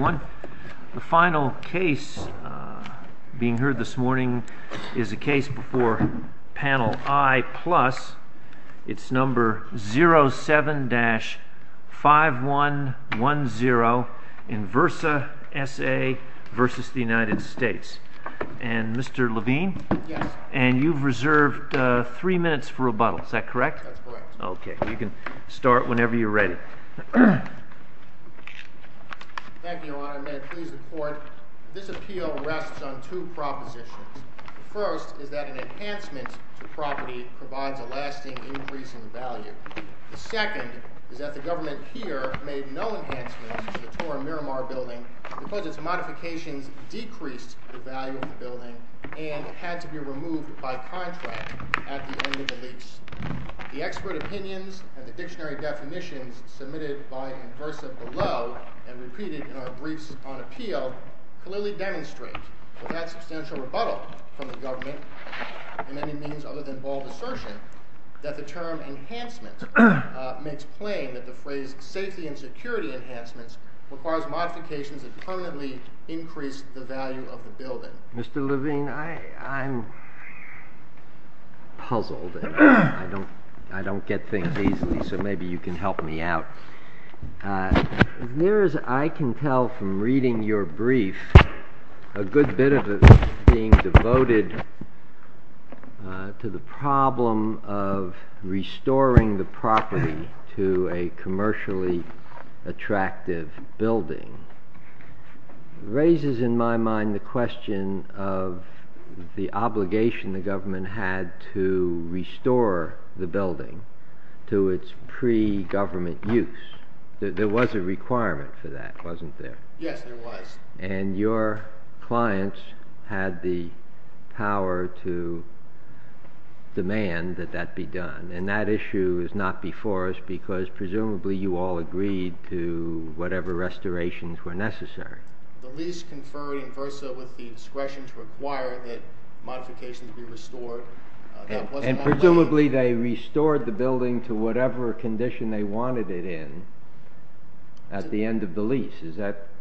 The final case being heard this morning is a case before panel I plus. It's number 07-5110 Inversa Sa v. United States. And Mr. Levine? Yes. And you've reserved three minutes for rebuttal. Is that correct? That's correct. Okay. You can start whenever you're ready. Thank you, Your Honor. May I please report? This appeal rests on two propositions. The first is that an enhancement to property provides a lasting increase in value. The second is that the government here made no enhancements to the Torre Miramar building because its modifications decreased the value of the building and it had to be removed by contract at the end of the lease. The expert opinions and the dictionary definitions submitted by Inversa below and repeated in our briefs on appeal clearly demonstrate that that substantial rebuttal from the government in any means other than bald assertion that the term enhancement makes plain that the phrase safety and security enhancements requires modifications that permanently increase the value of the building. Mr. Levine, I'm puzzled. I don't get things easily, so maybe you can help me out. There is, I can tell from reading your brief, a good bit of it is being devoted to the problem of restoring the property to a commercially attractive building. It raises in my mind the question of the obligation the government had to restore the building to its pre-government use. There was a requirement for that, wasn't there? Yes, there was. And your clients had the power to demand that that be done, and that issue is not before us because presumably you all agreed to whatever restorations were necessary. The lease conferred Inversa with the discretion to require that modifications be restored. And presumably they restored the building to whatever condition they wanted it in at the end of the lease.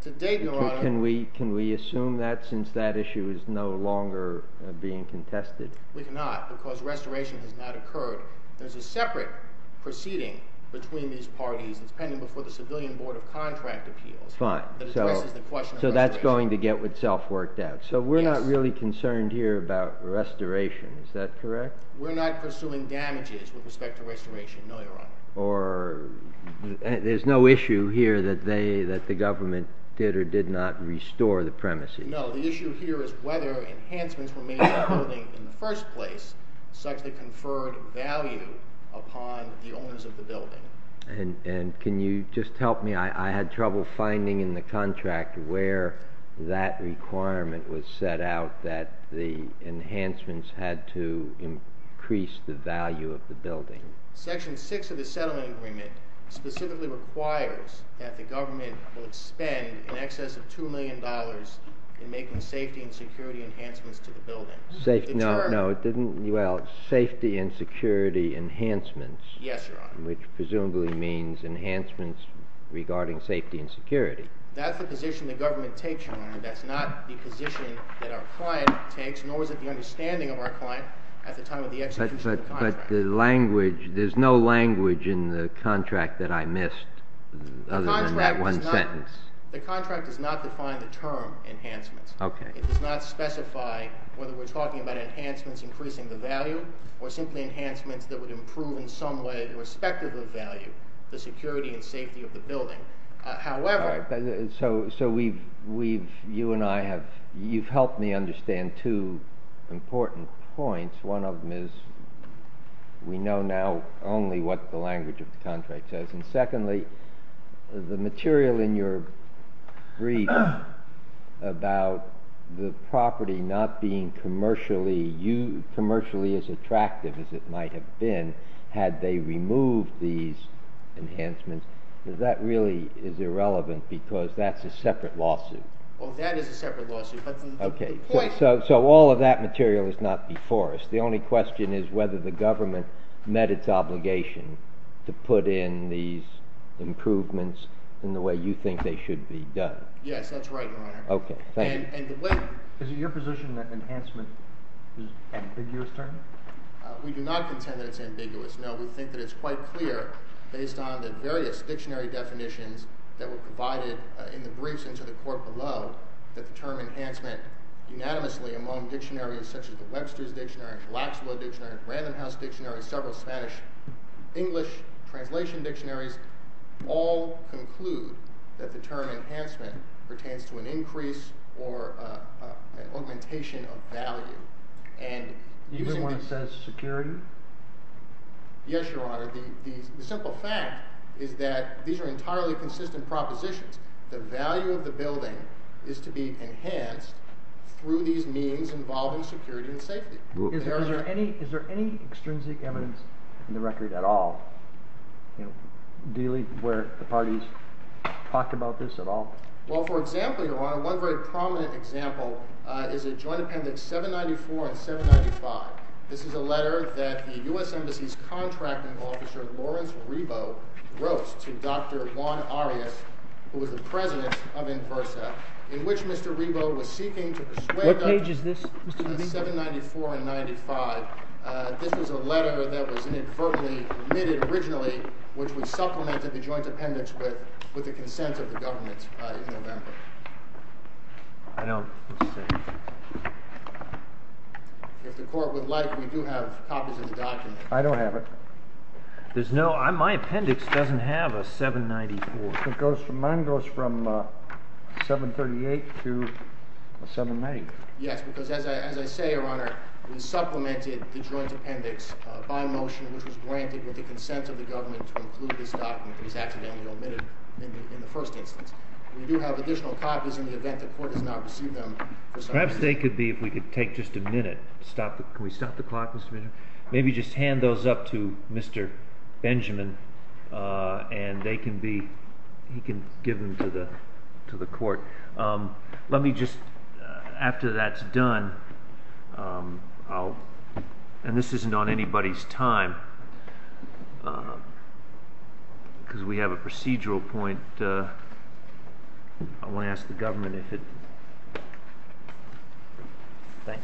To date, Your Honor. Can we assume that since that issue is no longer being contested? We cannot because restoration has not occurred. There's a separate proceeding between these parties. It's pending before the Civilian Board of Contract Appeals. Fine. So that's going to get itself worked out. So we're not really concerned here about restoration, is that correct? We're not pursuing damages with respect to restoration, no, Your Honor. There's no issue here that the government did or did not restore the premises. No, the issue here is whether enhancements were made to the building And can you just help me? I had trouble finding in the contract where that requirement was set out that the enhancements had to increase the value of the building. Section 6 of the settlement agreement specifically requires that the government would spend in excess of $2 million in making safety and security enhancements to the building. Safety and security enhancements. Yes, Your Honor. Which presumably means enhancements regarding safety and security. That's the position the government takes, Your Honor. That's not the position that our client takes, nor is it the understanding of our client at the time of the execution of the contract. But the language, there's no language in the contract that I missed other than that one sentence. The contract does not define the term enhancements. It does not specify whether we're talking about enhancements increasing the value or simply enhancements that would improve in some way, irrespective of value, the security and safety of the building. However... All right. So we've, you and I have, you've helped me understand two important points. One of them is we know now only what the language of the contract says. And secondly, the material in your brief about the property not being commercially as attractive as it might have been had they removed these enhancements, that really is irrelevant because that's a separate lawsuit. Oh, that is a separate lawsuit. Okay. So all of that material is not before us. The only question is whether the government met its obligation to put in these improvements in the way you think they should be done. Yes, that's right, Your Honor. Okay. Thank you. And the way... Is it your position that enhancement is an ambiguous term? We do not contend that it's ambiguous. No, we think that it's quite clear based on the various dictionary definitions that were provided in the briefs and to the court below that the term enhancement unanimously among dictionaries such as the Webster's Dictionary, Laxbo Dictionary, Random House Dictionary, several Spanish-English translation dictionaries, all conclude that the term enhancement pertains to an increase or an augmentation of value. Even when it says security? Yes, Your Honor. The simple fact is that these are entirely consistent propositions. The value of the building is to be enhanced through these means involving security and safety. Is there any extrinsic evidence in the record at all where the parties talked about this at all? Well, for example, Your Honor, one very prominent example is a joint appendix 794 and 795. This is a letter that the U.S. Embassy's contracting officer, Lawrence Rebo, wrote to Dr. Juan Arias, who was the president of Inversa, in which Mr. Rebo was seeking to persuade... What page is this? 794 and 95. This was a letter that was inadvertently omitted originally, which would supplement the joint appendix with the consent of the government in November. If the court would like, we do have copies of the document. I don't have it. My appendix doesn't have a 794. Mine goes from 738 to 795. Yes, because as I say, Your Honor, we supplemented the joint appendix by motion, which was granted with the consent of the government to include this document that was accidentally omitted maybe in the first instance. We do have additional copies in the event the court does not receive them. Perhaps they could be, if we could take just a minute... Can we stop the clock, Mr. Benjamin? Maybe just hand those up to Mr. Benjamin, and he can give them to the court. Let me just, after that's done... And this isn't on anybody's time, because we have a procedural point. I want to ask the government if it... Thank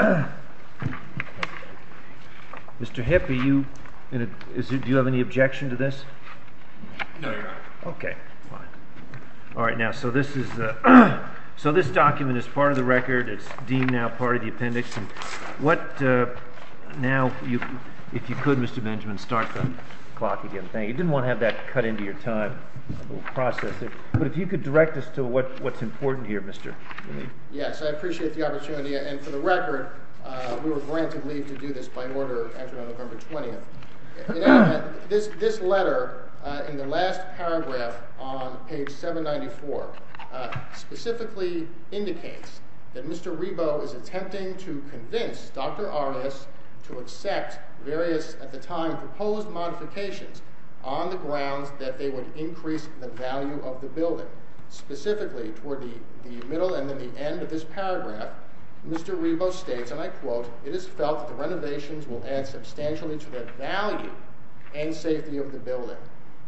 you. Mr. Hipp, do you have any objection to this? No, Your Honor. Okay, fine. All right, now, so this is... So this document is part of the record. It's deemed now part of the appendix. And what... Now, if you could, Mr. Benjamin, start the clock again. Thank you. Didn't want to have that cut into your time, process it. But if you could direct us to what's important here, Mr. Lee. Yes, I appreciate the opportunity. And for the record, we were granted leave to do this by order actually on November 20th. This letter in the last paragraph on page 794 specifically indicates that Mr. Rebo is attempting to convince Dr. Aras to accept various, at the time, proposed modifications on the grounds that they would increase the value of the building. Specifically, toward the middle and then the end of this paragraph, Mr. Rebo states, and I quote, it is felt that the renovations will add substantially to the value and safety of the building.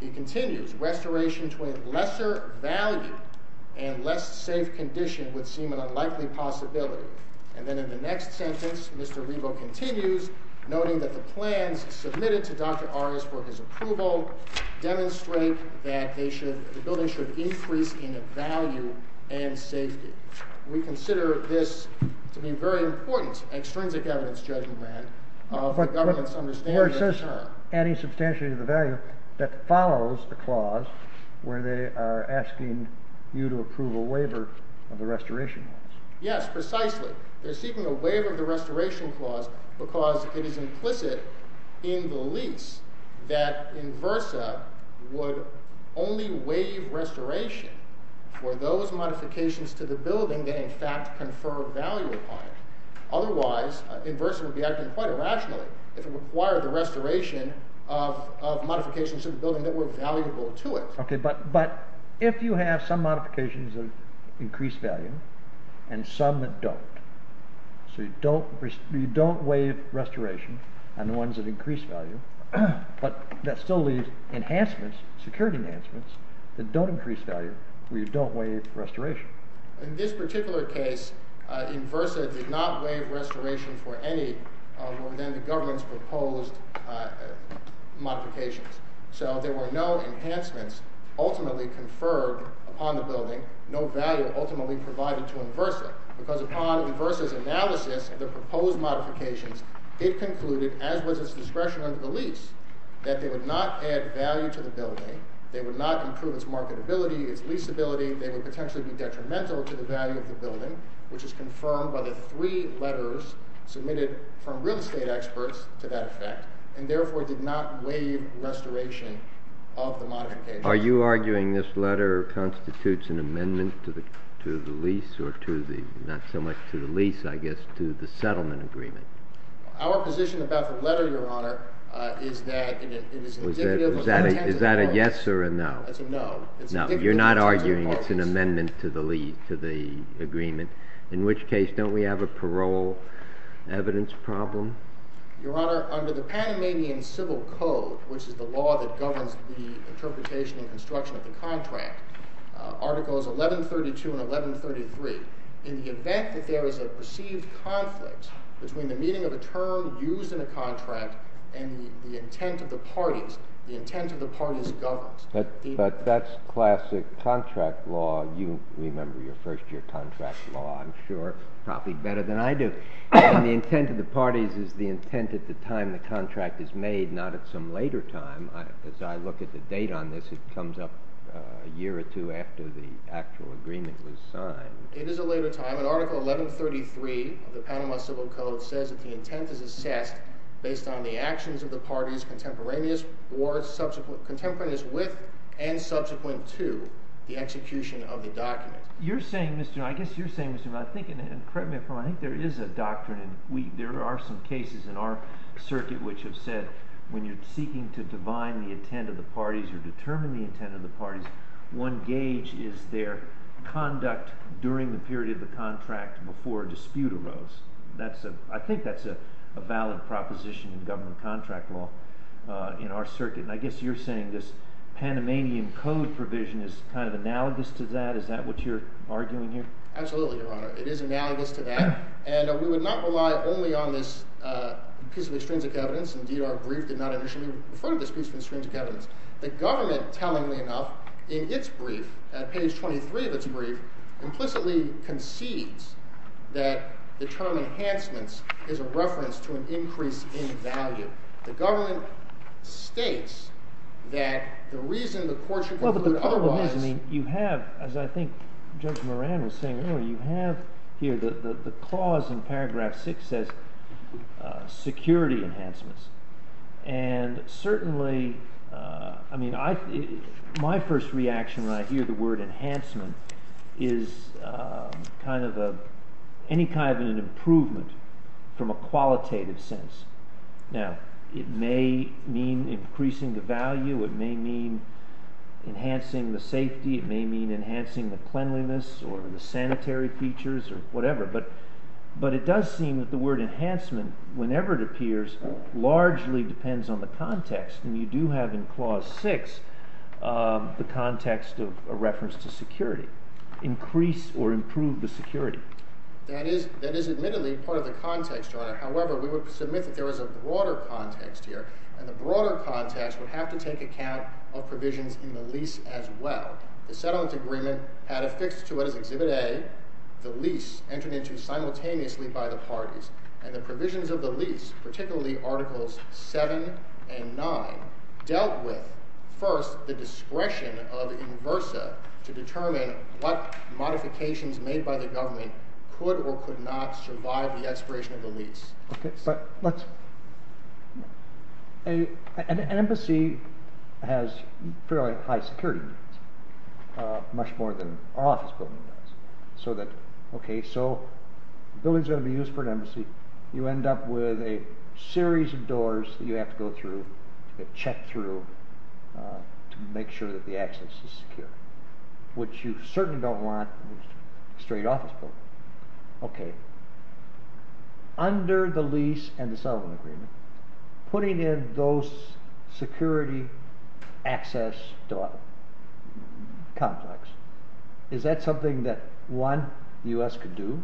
He continues, restoration to a lesser value and less safe condition would seem an unlikely possibility. And then in the next sentence, Mr. Rebo continues, noting that the plans submitted to Dr. Aras for his approval demonstrate that the building should increase in value and safety. We consider this to be very important as an extrinsic evidence-judging grant of the government's understanding of the term. Or it says adding substantially to the value that follows the clause where they are asking you to approve a waiver of the restoration clause. Yes, precisely. They're seeking a waiver of the restoration clause because it is implicit in the lease that Inversa would only waive restoration for those modifications to the building that in fact confer value upon it. Otherwise, Inversa would be acting quite irrationally if it required the restoration of modifications to the building that were valuable to it. OK, but if you have some modifications that increase value and some that don't, so you don't waive restoration on the ones that increase value, but that still leave enhancements, security enhancements, that don't increase value, we don't waive restoration. In this particular case, Inversa did not waive restoration for any of what were then the government's proposed modifications. So there were no enhancements ultimately conferred upon the building, no value ultimately provided to Inversa, because upon Inversa's analysis of the proposed modifications, it concluded, as was its discretion under the lease, that they would not add value to the building, they would not improve its marketability, its leasability, they would potentially be detrimental to the value of the building, which is confirmed by the three letters submitted from real estate experts to that effect, and therefore did not waive restoration of the modifications. Are you arguing this letter constitutes an amendment to the lease, or to the, not so much to the lease, I guess, to the settlement agreement? Our position about the letter, Your Honor, is that it is indicative of the intent of the court. Is that a yes or a no? It's a no. No, you're not arguing it's an amendment to the agreement, in which case, don't we have a parole evidence problem? Your Honor, under the Panamanian Civil Code, which is the law that governs the interpretation and construction of the contract, Articles 1132 and 1133, in the event that there is a perceived conflict between the meaning of a term used in a contract and the intent of the parties, the intent of the parties governs. But that's classic contract law. You remember your first-year contract law, I'm sure, probably better than I do. The intent of the parties is the intent at the time the contract is made, not at some later time. As I look at the date on this, it comes up a year or two after the actual agreement was signed. It is a later time. In Article 1133 of the Panama Civil Code says that the intent is assessed based on the actions of the parties contemporaneous with and subsequent to the execution of the document. I guess you're saying, Mr. Miller, and correct me if I'm wrong, I think there is a doctrine. There are some cases in our circuit which have said when you're seeking to divine the intent of the parties or determine the intent of the parties, one gauge is their conduct during the period of the contract before a dispute arose. I think that's a valid proposition in government contract law in our circuit. I guess you're saying this Panamanian Code provision is kind of analogous to that? Is that what you're arguing here? Absolutely, Your Honor. It is analogous to that. And we would not rely only on this piece of extrinsic evidence. Indeed, our brief did not initially refer to this piece of extrinsic evidence. in its brief, at page 23 of its brief, implicitly concedes that the term enhancements is a reference to an increase in value. The government states that the reason the court should conclude otherwise... Well, but the problem is, I mean, you have, as I think Judge Moran was saying earlier, you have here the clause in paragraph 6 says security enhancements. And certainly, I mean, my first reaction when I hear the word enhancement is kind of any kind of an improvement from a qualitative sense. Now, it may mean increasing the value. It may mean enhancing the safety. It may mean enhancing the cleanliness or the sanitary features or whatever. But it does seem that the word enhancement, whenever it appears, largely depends on the context. And you do have in clause 6 the context of a reference to security. Increase or improve the security. That is admittedly part of the context, Your Honor. However, we would submit that there is a broader context here. And the broader context would have to take account of provisions in the lease as well. The settlement agreement had affixed to it as Exhibit A the lease entered into simultaneously by the parties. And the provisions of the lease, particularly Articles 7 and 9, dealt with, first, the discretion of Inversa to determine what modifications made by the government could or could not survive the expiration of the lease. An embassy has fairly high security needs, much more than our office building does. So the building is going to be used for an embassy. You end up with a series of doors that you have to go through, that check through, to make sure that the access is secure, which you certainly don't want in a straight office building. Under the lease and the settlement agreement, putting in those security access conflicts, is that something that, one, the U.S. could do?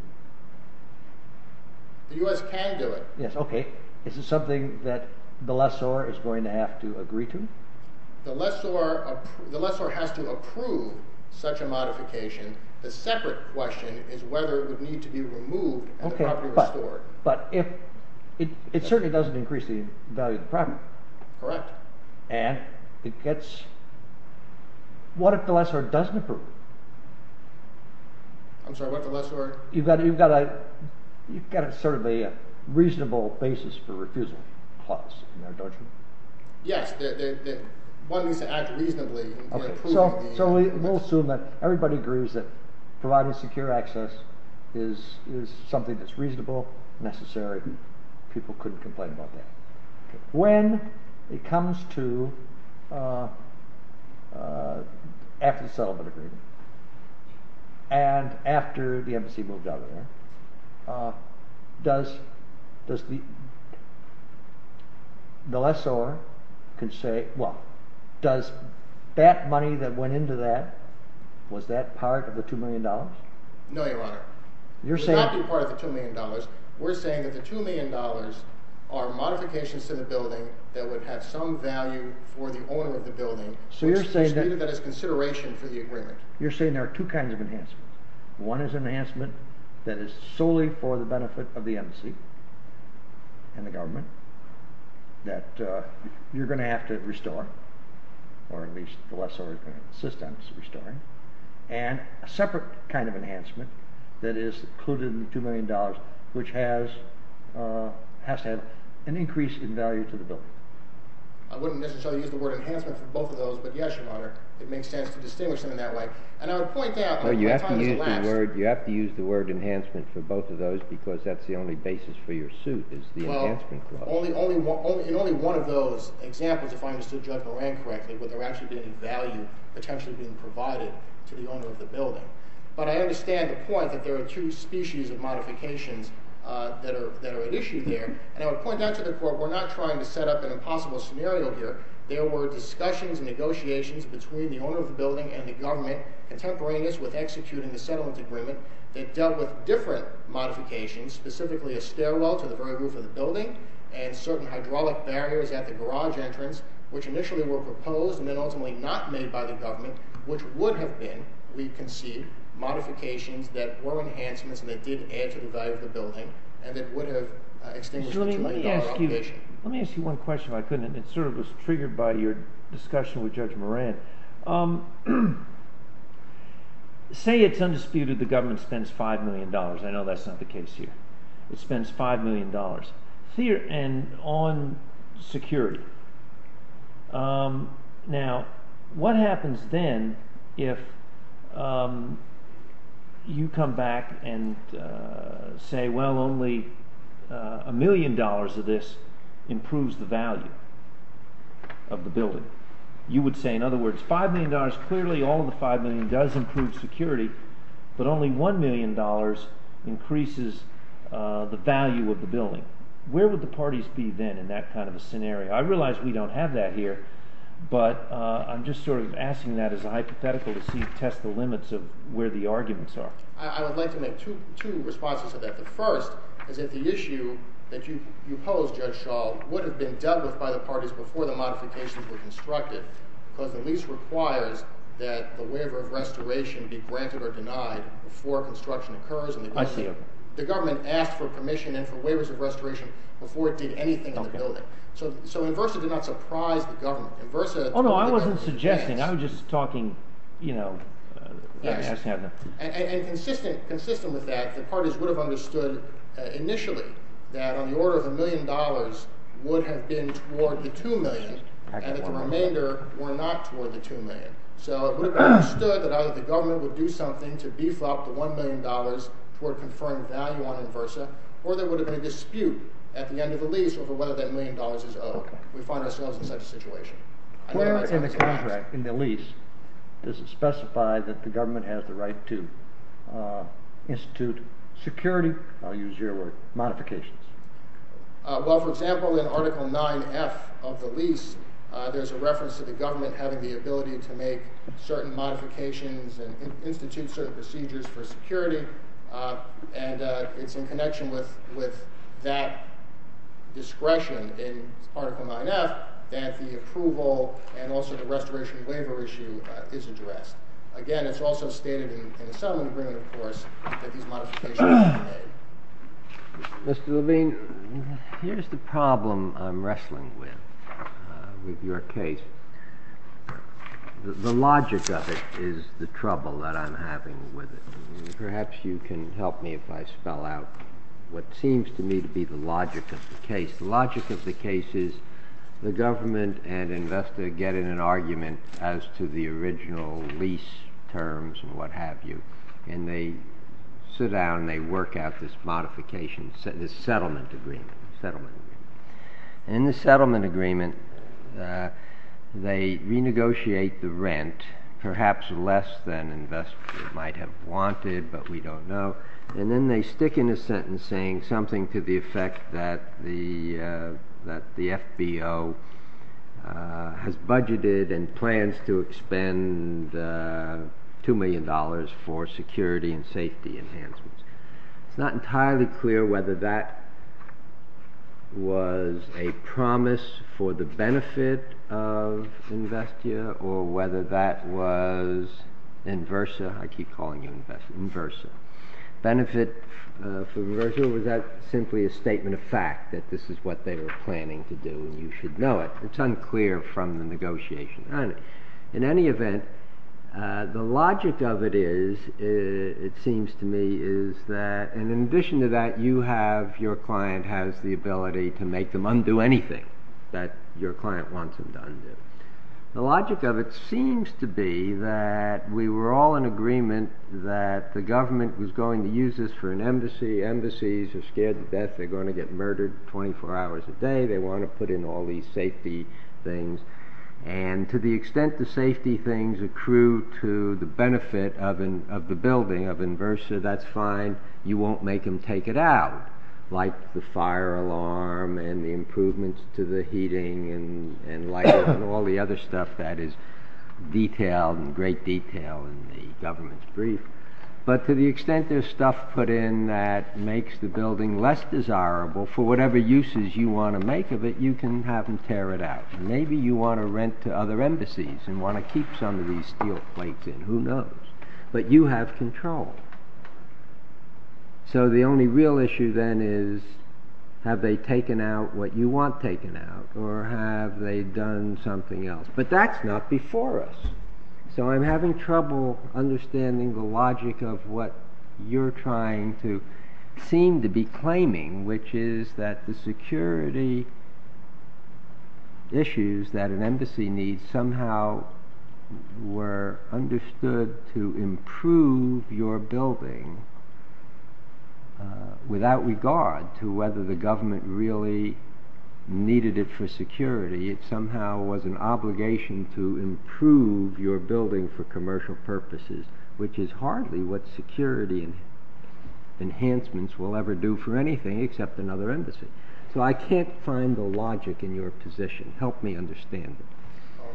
The U.S. can do it. Yes, okay. Is it something that the lessor is going to have to agree to? The lessor has to approve such a modification. The separate question is whether it would need to be removed and the property restored. Okay, but it certainly doesn't increase the value of the property. Correct. And what if the lessor doesn't approve? I'm sorry, what if the lessor… You've got sort of a reasonable basis for refusal clause in there, don't you? Yes, one needs to act reasonably in approving the… So we'll assume that everybody agrees that providing secure access is something that's reasonable, necessary, and people couldn't complain about that. When it comes to after the settlement agreement and after the embassy moved out of there, does the lessor say, well, does that money that went into that, was that part of the $2 million? No, Your Honor. You're saying… It would not be part of the $2 million. We're saying that the $2 million are modifications to the building that would have some value for the owner of the building, which is consideration for the agreement. You're saying there are two kinds of enhancements. One is an enhancement that is solely for the benefit of the embassy and the government that you're going to have to restore, or at least the lessor is going to insist on restoring, and a separate kind of enhancement that is included in the $2 million which has to have an increase in value to the building. I wouldn't necessarily use the word enhancement for both of those, but yes, Your Honor, it makes sense to distinguish them in that way. And I would point out… No, you have to use the word enhancement for both of those because that's the only basis for your suit is the enhancement clause. Well, in only one of those examples, if I understood Judge Moran correctly, to the owner of the building. But I understand the point that there are two species of modifications that are at issue there, and I would point out to the court we're not trying to set up an impossible scenario here. There were discussions and negotiations between the owner of the building and the government contemporaneous with executing the settlement agreement that dealt with different modifications, specifically a stairwell to the very roof of the building and certain hydraulic barriers at the garage entrance, which initially were proposed and then ultimately not made by the government, which would have been, we can see, modifications that were enhancements and that did add to the value of the building and that would have extended the $2 million allocation. Let me ask you one question if I could, and it sort of was triggered by your discussion with Judge Moran. Say it's undisputed the government spends $5 million. I know that's not the case here. It spends $5 million on security. Now, what happens then if you come back and say, well, only $1 million of this improves the value of the building? You would say, in other words, $5 million, clearly all of the $5 million does improve security, but only $1 million increases the value of the building. Where would the parties be then in that kind of a scenario? I realize we don't have that here, but I'm just sort of asking that as a hypothetical to test the limits of where the arguments are. I would like to make two responses to that. The first is that the issue that you pose, Judge Schall, would have been dealt with by the parties before the modifications were constructed because the lease requires that the waiver of restoration be granted or denied before construction occurs. I see it. The government asked for permission and for waivers of restoration before it did anything on the building. So Inversa did not surprise the government. Oh, no, I wasn't suggesting. I was just talking, you know. And consistent with that, the parties would have understood initially that on the order of $1 million would have been toward the $2 million and that the remainder were not toward the $2 million. So it would have been understood that either the government would do something to beef up the $1 million toward a confirmed value on Inversa or there would have been a dispute at the end of the lease over whether that $1 million is owed. We find ourselves in such a situation. Where in the contract, in the lease, does it specify that the government has the right to institute security, I'll use your word, modifications? Well, for example, in Article 9F of the lease, there's a reference to the government having the ability to make certain modifications and institute certain procedures for security and it's in connection with that discretion in Article 9F that the approval and also the restoration waiver issue is addressed. Again, it's also stated in the settlement agreement, of course, that these modifications are made. Mr. Levine, here's the problem I'm wrestling with with your case. The logic of it is the trouble that I'm having with it. Perhaps you can help me if I spell out what seems to me to be the logic of the case. The logic of the case is the government and Inversa get in an argument as to the original lease terms and what have you, and they sit down and they work out this modification, this settlement agreement. In the settlement agreement, they renegotiate the rent, perhaps less than Inversa might have wanted, but we don't know, and then they stick in a sentence saying something to the effect that the FBO has budgeted and plans to expend $2 million for security and safety enhancements. It's not entirely clear whether that was a promise for the benefit of Inversa or whether that was Inversa. I keep calling you Inversa. Benefit for Inversa, or was that simply a statement of fact that this is what they were planning to do and you should know it? It's unclear from the negotiation. In any event, the logic of it is, it seems to me, is that in addition to that, your client has the ability to make them undo anything that your client wants them to undo. The logic of it seems to be that we were all in agreement that the government was going to use this for an embassy. Embassies are scared to death they're going to get murdered 24 hours a day. They want to put in all these safety things, and to the extent the safety things accrue to the benefit of the building, of Inversa, that's fine. You won't make them take it out, like the fire alarm and the improvements to the heating and lighting and all the other stuff that is detailed in great detail in the government's brief. But to the extent there's stuff put in that makes the building less desirable, for whatever uses you want to make of it, you can have them tear it out. Maybe you want to rent to other embassies and want to keep some of these steel plates in. Who knows? But you have control. So the only real issue then is, have they taken out what you want taken out? Or have they done something else? But that's not before us. So I'm having trouble understanding the logic of what you're trying to seem to be claiming, which is that the security issues that an embassy needs somehow were understood to improve your building without regard to whether the government really needed it for security. It somehow was an obligation to improve your building for commercial purposes, which is hardly what security enhancements will ever do for anything except another embassy. So I can't find the logic in your position. Help me understand it.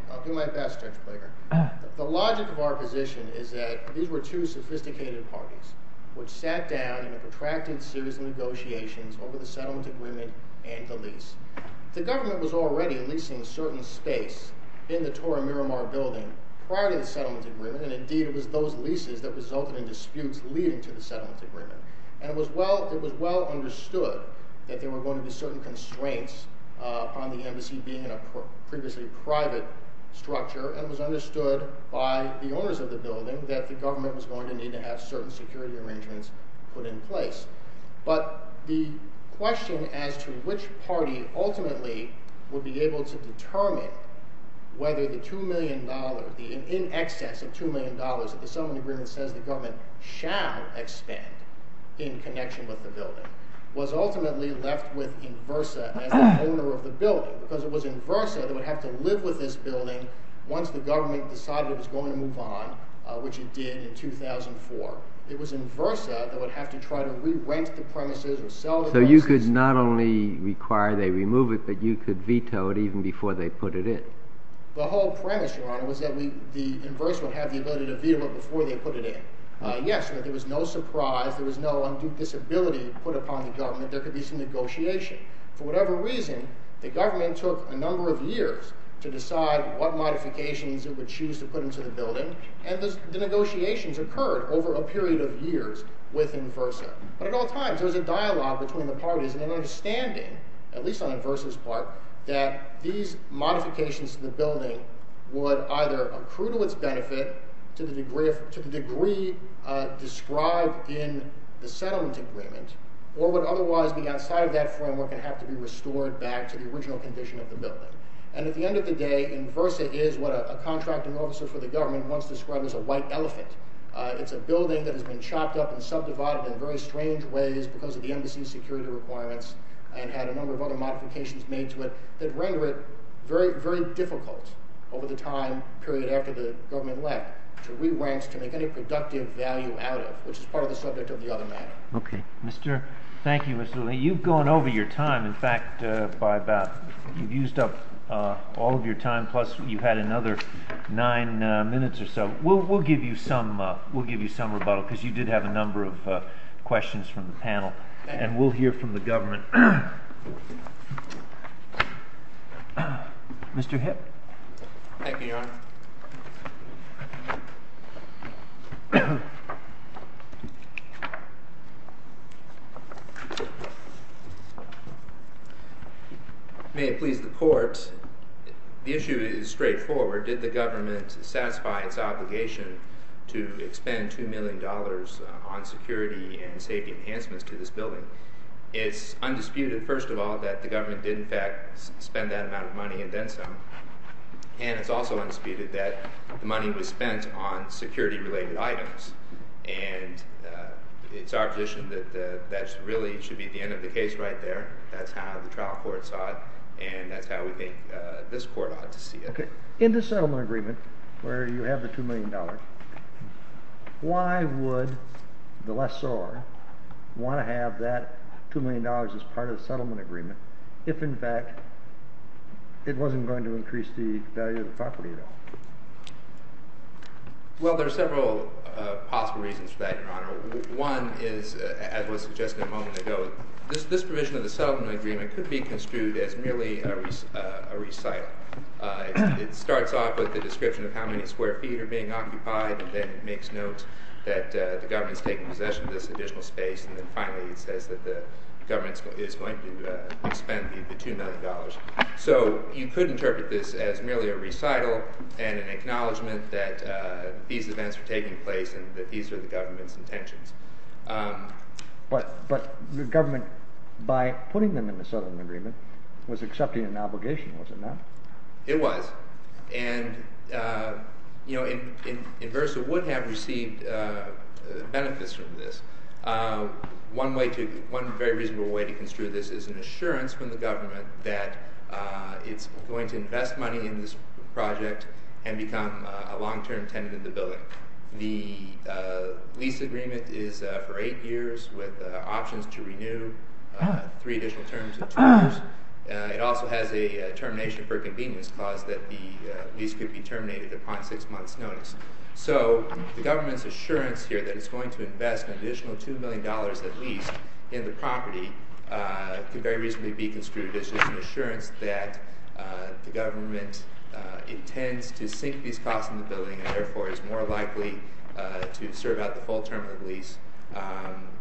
I'll do my best, Judge Breger. The logic of our position is that these were two sophisticated parties which sat down in a protracted series of negotiations over the settlement agreement and the lease. The government was already leasing certain space in the Torre Miramar building prior to the settlement agreement, and indeed it was those leases that resulted in disputes leading to the settlement agreement. And it was well understood that there were going to be certain constraints on the embassy being in a previously private structure, and it was understood by the owners of the building that the government was going to need to have certain security arrangements put in place. But the question as to which party ultimately would be able to determine whether the $2 million, the in excess of $2 million that the settlement agreement says the government shall expend in connection with the building was ultimately left with Inversa as the owner of the building because it was Inversa that would have to live with this building once the government decided it was going to move on, which it did in 2004. It was Inversa that would have to try to re-rent the premises or sell the premises. So you could not only require they remove it, but you could veto it even before they put it in. The whole premise, Your Honor, was that the Inversa would have the ability to veto it before they put it in. Yes, but there was no surprise. There could be some negotiation. For whatever reason, the government took a number of years to decide what modifications it would choose to put into the building, and the negotiations occurred over a period of years with Inversa. But at all times, there was a dialogue between the parties and an understanding, at least on Inversa's part, that these modifications to the building would either accrue to its benefit to the degree described in the settlement agreement, or would otherwise be outside of that framework and have to be restored back to the original condition of the building. And at the end of the day, Inversa is what a contracting officer for the government once described as a white elephant. It's a building that has been chopped up and subdivided in very strange ways because of the embassy's security requirements and had a number of other modifications made to it that render it very difficult over the time period after the government left to re-wrench, to make any productive value out of it, which is part of the subject of the other matter. Okay. Thank you, Mr. Lee. You've gone over your time. In fact, you've used up all of your time, plus you had another nine minutes or so. We'll give you some rebuttal because you did have a number of questions from the panel, and we'll hear from the government. Mr. Hipp. Thank you, Your Honor. May it please the court, the issue is straightforward. Did the government satisfy its obligation to expend $2 million on security and safety enhancements to this building? It's undisputed, first of all, that the government did in fact spend that amount of money and then some, and it's also undisputed that the money was spent on security-related items. And it's our position that that really should be the end of the case right there. That's how the trial court saw it, and that's how we make this court ought to see it. In the settlement agreement where you have the $2 million, why would the lessor want to have that $2 million as part of the settlement agreement if, in fact, it wasn't going to increase the value of the property at all? Well, there are several possible reasons for that, Your Honor. One is, as was suggested a moment ago, this provision of the settlement agreement could be construed as merely a recital. It starts off with the description of how many square feet are being occupied, and then it makes note that the government is taking possession of this additional space, and then finally it says that the government is going to expend the $2 million. So you could interpret this as merely a recital and an acknowledgement that these events are taking place and that these are the government's intentions. But the government, by putting them in the settlement agreement, was accepting an obligation, was it not? It was, and Inversa would have received benefits from this. One very reasonable way to construe this is an assurance from the government that it's going to invest money in this project and become a long-term tenant of the building. The lease agreement is for eight years with options to renew three additional terms of terms. It also has a termination for convenience clause that the lease could be terminated upon six months' notice. So the government's assurance here that it's going to invest an additional $2 million at least in the property could very reasonably be construed as just an assurance that the government intends to sink these costs in the building and therefore is more likely to serve out the full term of the lease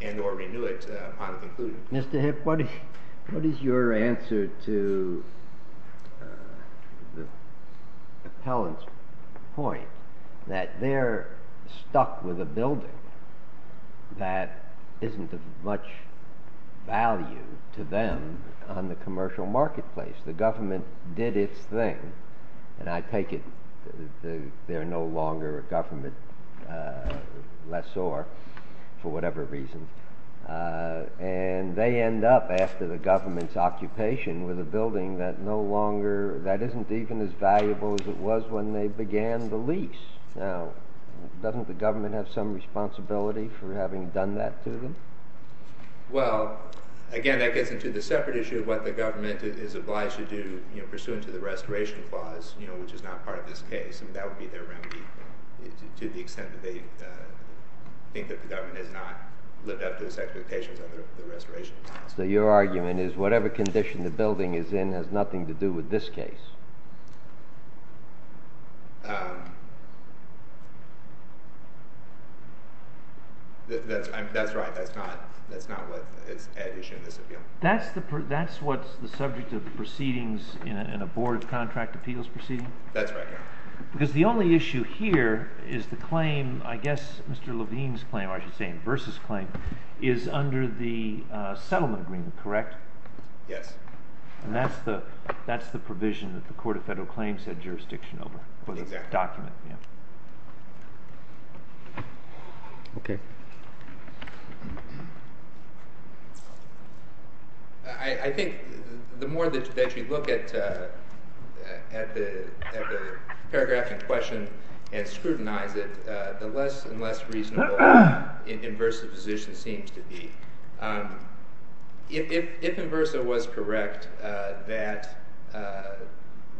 and or renew it upon the conclusion. Mr. Hipp, what is your answer to the appellant's point that they're stuck with a building that isn't of much value to them on the commercial marketplace? The government did its thing, and I take it they're no longer a government lessor for whatever reason, and they end up after the government's occupation with a building that isn't even as valuable as it was when they began the lease. Now, doesn't the government have some responsibility for having done that to them? Well, again, that gets into the separate issue of what the government is obliged to do pursuant to the restoration clause, which is not part of this case, and that would be their remedy to the extent that they think that the government has not lived up to its expectations under the restoration clause. So your argument is whatever condition the building is in has nothing to do with this case? That's right. That's not what's at issue in this appeal. That's what's the subject of the proceedings in a board contract appeals proceeding? That's right, yes. Because the only issue here is the claim, I guess Mr. Levine's claim, or I should say in Bursa's claim, is under the settlement agreement, correct? And that's the provision that the government has. The Court of Federal Claims had jurisdiction over the document. I think the more that you look at the paragraph in question and scrutinize it, the less and less reasonable In Bursa's position seems to be. If In Bursa was correct that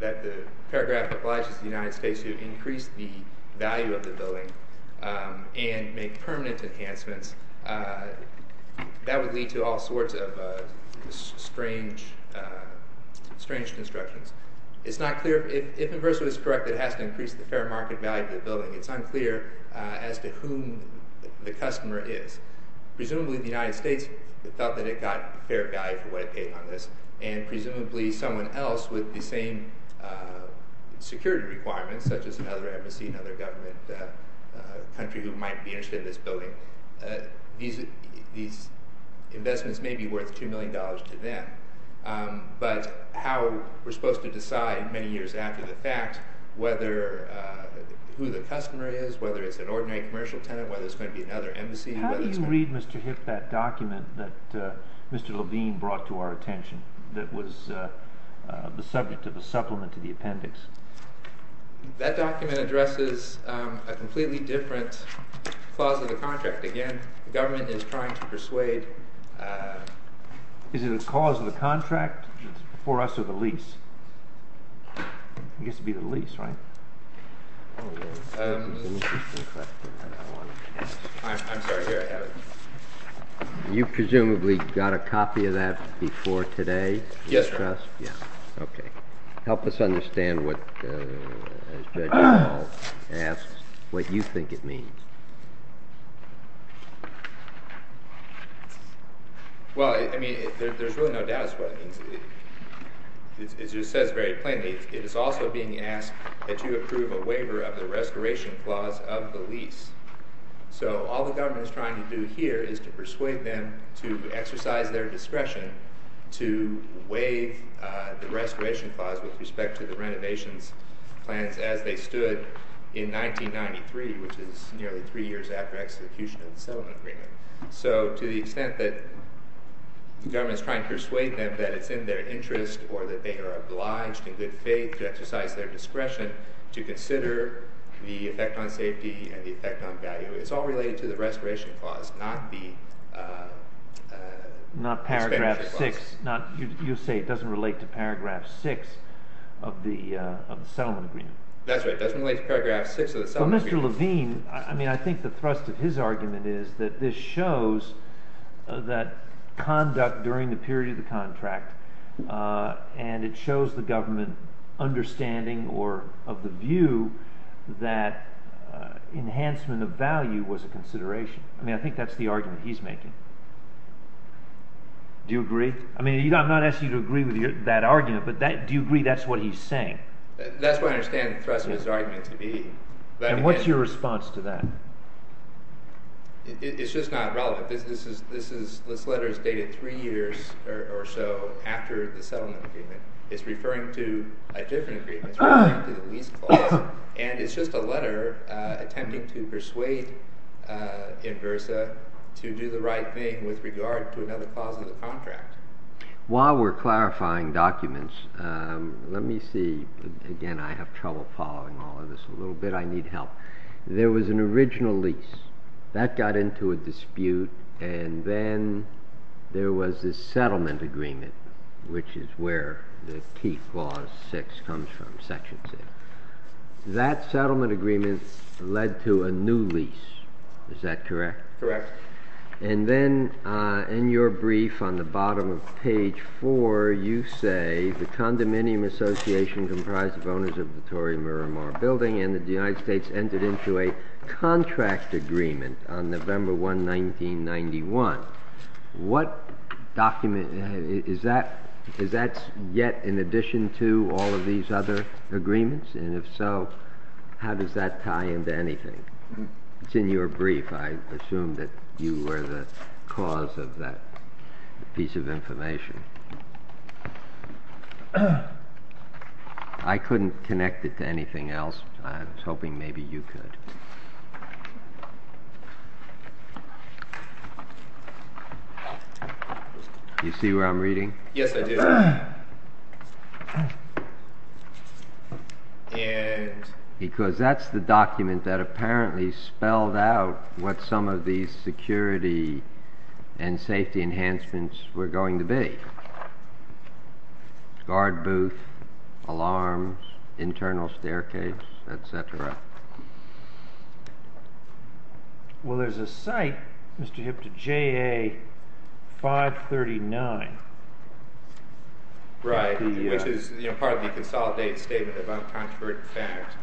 the paragraph obliges the United States to increase the value of the building and make permanent enhancements, that would lead to all sorts of strange constructions. It's not clear, if In Bursa was correct that it has to increase the fair market value of the building, it's unclear as to whom the customer is. Presumably the United States thought that it got fair value for what it paid on this, and presumably someone else with the same security requirements, such as another embassy, another government country, who might be interested in this building. These investments may be worth $2 million to them, but how we're supposed to decide many years after the fact whether who the customer is, whether it's an ordinary commercial tenant, whether it's going to be another embassy. How do you read, Mr. Hipp, that document that Mr. Levine brought to our attention that was the subject of the supplement to the appendix? That document addresses a completely different clause of the contract. Again, the government is trying to persuade... Is it a cause of the contract, for us, or the lease? I guess it would be the lease, right? I'm sorry, here I have it. You presumably got a copy of that before today? Yes, sir. Okay. Help us understand what, as Judge Hall asks, what you think it means. Well, I mean, there's really no doubt as to what it means. It just says very plainly, it is also being asked that you approve a waiver of the restoration clause of the lease. So all the government is trying to do here is to persuade them to exercise their discretion to waive the restoration clause with respect to the renovations plans as they stood in 1993, which is nearly three years after execution of the settlement agreement. So to the extent that the government is trying to persuade them that it's in their interest or that they are obliged in good faith to exercise their discretion to consider the effect on safety and the effect on value, it's all related to the restoration clause, not the expansion clause. Not paragraph 6. You say it doesn't relate to paragraph 6 of the settlement agreement. That's right, it doesn't relate to paragraph 6 of the settlement agreement. Well, Mr. Levine, I mean, I think the thrust of his argument is that this shows that conduct during the period of the contract, and it shows the government understanding or of the view that enhancement of value was a consideration. I mean, I think that's the argument he's making. Do you agree? I mean, I'm not asking you to agree with that argument, but do you agree that's what he's saying? That's what I understand the thrust of his argument to be. And what's your response to that? It's just not relevant. This letter is dated three years or so after the settlement agreement. It's referring to a different agreement. It's referring to the lease clause, and it's just a letter attempting to persuade Inversa to do the right thing with regard to another clause of the contract. While we're clarifying documents, let me see. Again, I have trouble following all of this a little bit. I need help. There was an original lease. That got into a dispute, and then there was this settlement agreement, which is where the key clause 6 comes from, Section 6. That settlement agreement led to a new lease. Is that correct? Correct. And then in your brief on the bottom of page 4, you say, the condominium association comprised of owners of the Tory-Miramar building and that the United States entered into a contract agreement on November 1, 1991. Is that yet in addition to all of these other agreements? And if so, how does that tie into anything? It's in your brief. I assume that you were the cause of that piece of information. I couldn't connect it to anything else. I was hoping maybe you could. Do you see where I'm reading? Yes, I do. Because that's the document that apparently spelled out what some of these security and safety enhancements were going to be. Guard booth, alarms, internal staircase, et cetera. Well, there's a site, Mr. Hipta, JA 539. Right, which is part of the consolidated statement of uncontroverted facts.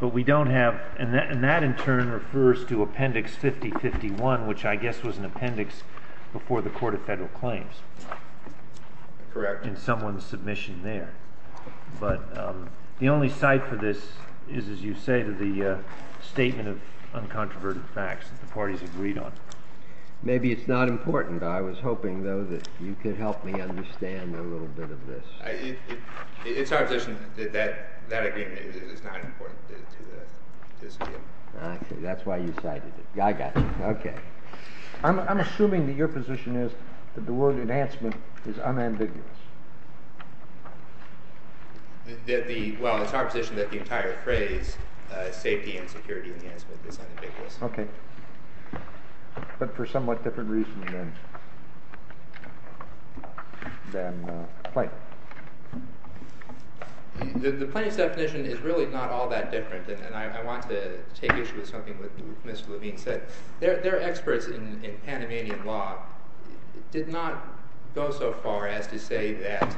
But we don't have, and that in turn refers to Appendix 5051, which I guess was an appendix before the Court of Federal Claims. Correct. In someone's submission there. But the only site for this is, as you say, the statement of uncontroverted facts that the parties agreed on. Maybe it's not important. I was hoping, though, that you could help me understand a little bit of this. It's our position that that agreement is not important to this case. Okay. That's why you cited it. I got you. Okay. I'm assuming that your position is that the word enhancement is unambiguous. Well, it's our position that the entire phrase, safety and security enhancement, is unambiguous. Okay. But for somewhat different reasons than plaintiff. The plaintiff's definition is really not all that different, and I want to take issue with something that Mr. Levine said. Their experts in Panamanian law did not go so far as to say that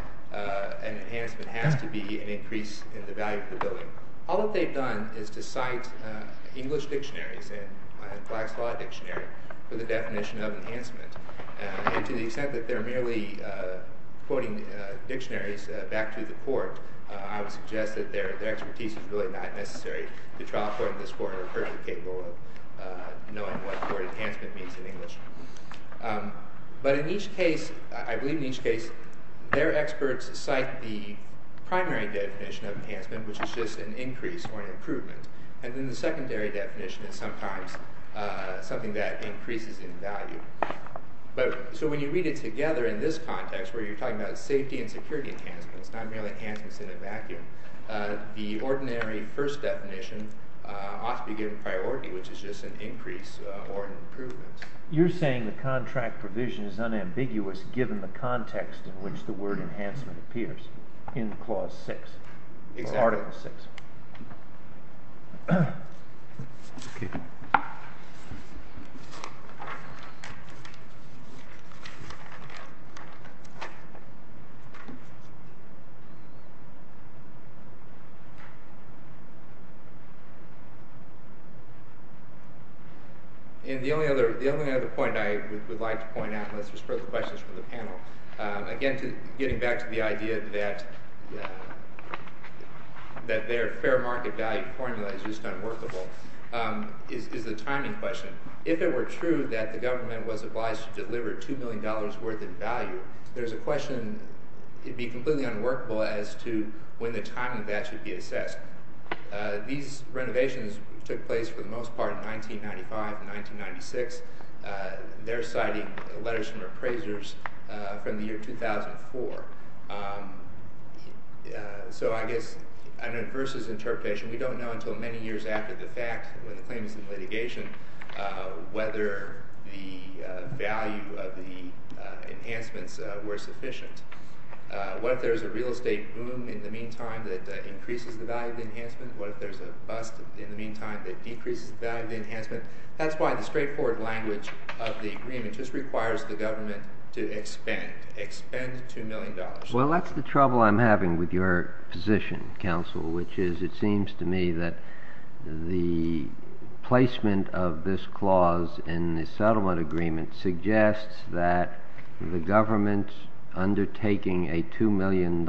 an enhancement has to be an increase in the value of the building. All that they've done is to cite English dictionaries and Flax Law Dictionary for the definition of enhancement. And to the extent that they're merely quoting dictionaries back to the court, I would suggest that their expertise is really not necessary. The trial court and this court are perfectly capable of knowing what the word enhancement means in English. But in each case, I believe in each case, their experts cite the primary definition of enhancement, which is just an increase or an improvement. And then the secondary definition is sometimes something that increases in value. So when you read it together in this context, where you're talking about safety and security enhancements, not merely enhancements in a vacuum, the ordinary first definition ought to be given priority, which is just an increase or an improvement. You're saying the contract provision is unambiguous given the context in which the word enhancement appears in Clause 6. Or Article 6. And the only other point I would like to point out, and this is for the questions from the panel, again getting back to the idea that their fair market value formula is just unworkable, is the timing question. If it were true that the government was obliged to deliver $2 million worth in value, there's a question it would be completely unworkable as to when the timing of that should be assessed. These renovations took place for the most part in 1995 and 1996. They're citing letters from appraisers from the year 2004. So I guess an adverse interpretation, we don't know until many years after the fact when the claim is in litigation whether the value of the enhancements were sufficient. What if there's a real estate boom in the meantime that increases the value of the enhancement? What if there's a bust in the meantime that decreases the value of the enhancement? That's why the straightforward language of the agreement just requires the government to expend, expend $2 million. Well, that's the trouble I'm having with your position, counsel, which is it seems to me that the placement of this clause in the settlement agreement suggests that the government undertaking a $2 million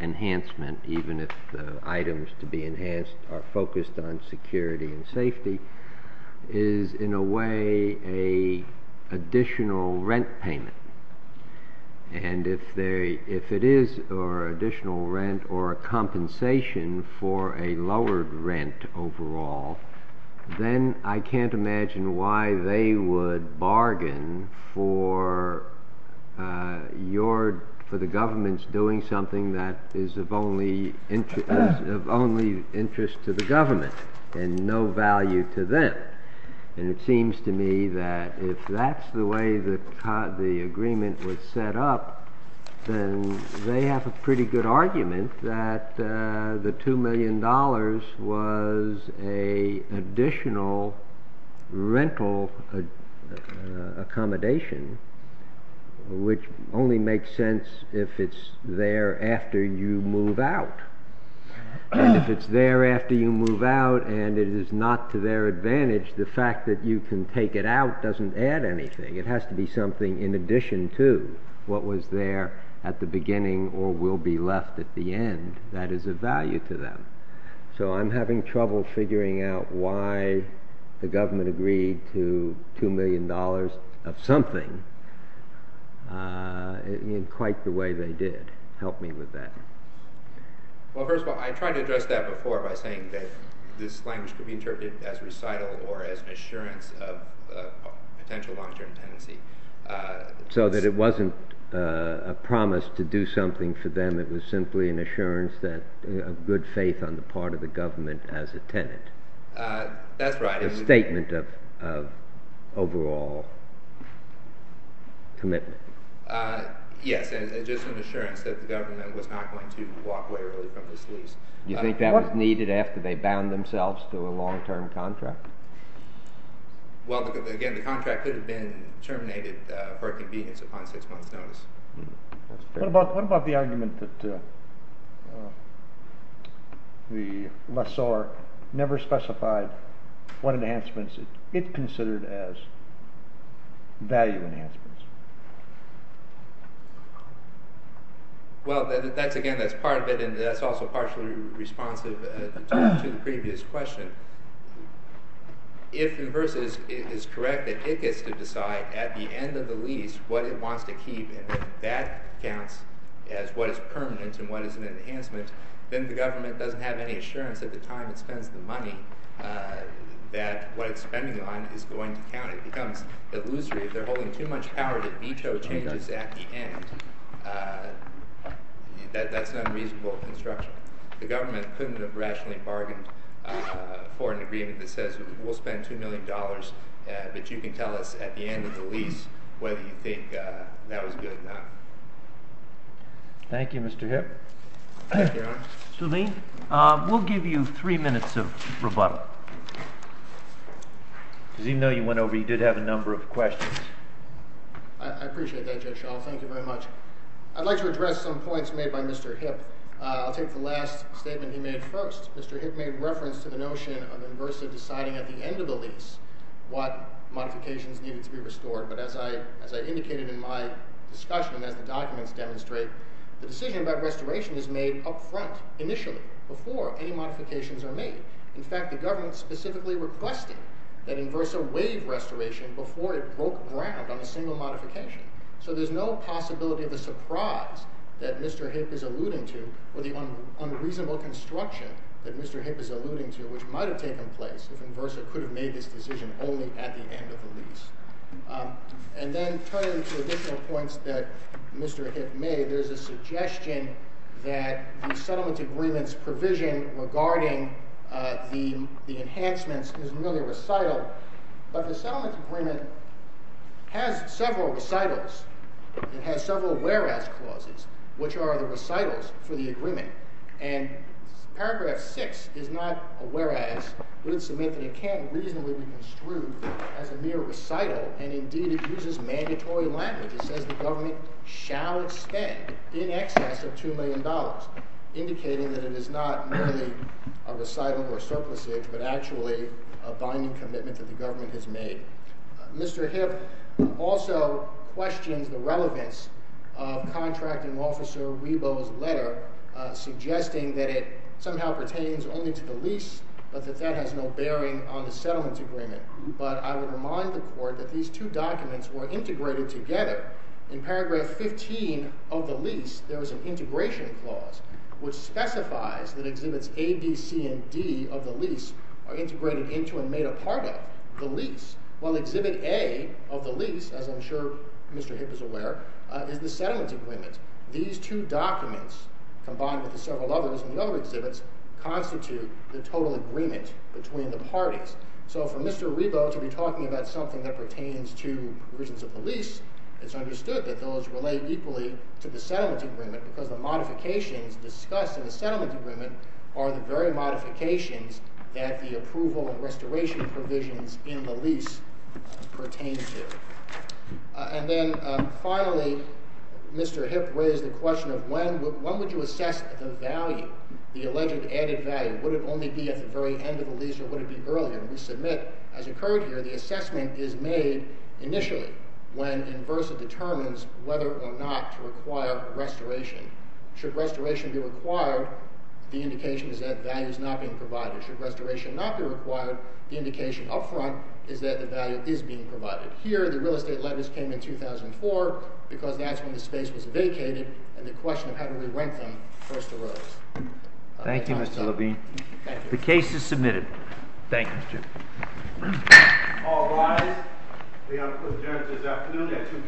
enhancement, even if the items to be enhanced are focused on security and safety, is in a way an additional rent payment. And if it is an additional rent or a compensation for a lowered rent overall, then I can't imagine why they would bargain for the government's doing something that is of only interest to the government and no value to them. And it seems to me that if that's the way the agreement was set up, then they have a pretty good argument that the $2 million was an additional rental accommodation, which only makes sense if it's there after you move out. And if it's there after you move out and it is not to their advantage, the fact that you can take it out doesn't add anything. It has to be something in addition to what was there at the beginning or will be left at the end. That is of value to them. So I'm having trouble figuring out why the government agreed to $2 million of something in quite the way they did. Help me with that. Well, first of all, I tried to address that before by saying that this language could be interpreted as recital or as an assurance of potential long-term tenancy. So that it wasn't a promise to do something for them. It was simply an assurance of good faith on the part of the government as a tenant. That's right. A statement of overall commitment. Yes, and just an assurance that the government was not going to walk away early from this lease. You think that was needed after they bound themselves to a long-term contract? Well, again, the contract could have been terminated for convenience upon six months' notice. What about the argument that the lessor never specified what enhancements it considered as value enhancements? Well, again, that's part of it, and that's also partially responsive to the previous question. If the verse is correct that it gets to decide at the end of the lease what it wants to keep, and that counts as what is permanent and what is an enhancement, then the government doesn't have any assurance at the time it spends the money that what it's spending on is going to count. It becomes illusory if they're holding too much power to veto changes at the end. That's an unreasonable construction. The government couldn't have rationally bargained for an agreement that says we'll spend $2 million, but you can tell us at the end of the lease whether you think that was good or not. Thank you, Mr. Hipp. Thank you, Your Honor. Mr. Levine, we'll give you three minutes of rebuttal. Because even though you went over, you did have a number of questions. I appreciate that, Judge Schall. Thank you very much. I'd like to address some points made by Mr. Hipp. I'll take the last statement he made first. Mr. Hipp made reference to the notion of Inversa deciding at the end of the lease what modifications needed to be restored. But as I indicated in my discussion, as the documents demonstrate, the decision about restoration is made up front, initially, before any modifications are made. In fact, the government specifically requested that Inversa waive restoration before it broke ground on a single modification. So there's no possibility of the surprise that Mr. Hipp is alluding to or the unreasonable construction that Mr. Hipp is alluding to, which might have taken place if Inversa could have made this decision only at the end of the lease. And then turning to additional points that Mr. Hipp made, there's a suggestion that the settlement agreement's provision regarding the enhancements is merely recital, but the settlement agreement has several recitals. It has several whereas clauses, which are the recitals for the agreement. And paragraph 6 is not a whereas, but it's a myth that it can't reasonably be construed as a mere recital, and indeed it uses mandatory language. It says the government shall spend in excess of $2 million, indicating that it is not merely a recital or surplusage, but actually a binding commitment that the government has made. Mr. Hipp also questions the relevance of Contracting Officer Rebo's letter suggesting that it somehow pertains only to the lease, but that that has no bearing on the settlement agreement. But I would remind the Court that these two documents were integrated together. In paragraph 15 of the lease, there was an integration clause which specifies that Exhibits A, B, C, and D of the lease are integrated into and made a part of the lease, while Exhibit A of the lease, as I'm sure Mr. Hipp is aware, is the settlement agreement. These two documents, combined with the several others in the other exhibits, constitute the total agreement between the parties. So for Mr. Rebo to be talking about something that pertains to provisions of the lease, it's understood that those relate equally to the settlement agreement because the modifications discussed in the settlement agreement are the very modifications that the approval and restoration provisions in the lease pertain to. And then, finally, Mr. Hipp raised the question of when would you assess the value, the alleged added value? Would it only be at the very end of the lease or would it be earlier? We submit, as occurred here, the assessment is made initially when Inversa determines whether or not to require restoration. Should restoration be required, the indication is that value is not being provided. Should restoration not be required, the indication up front is that the value is being provided. Here, the real estate letters came in 2004 because that's when the space was vacated and the question of how to re-rent them first arose. Thank you, Mr. Levine. The case is submitted. Thank you, Mr. Chairman. All rise. We are adjourned this afternoon at 2 p.m.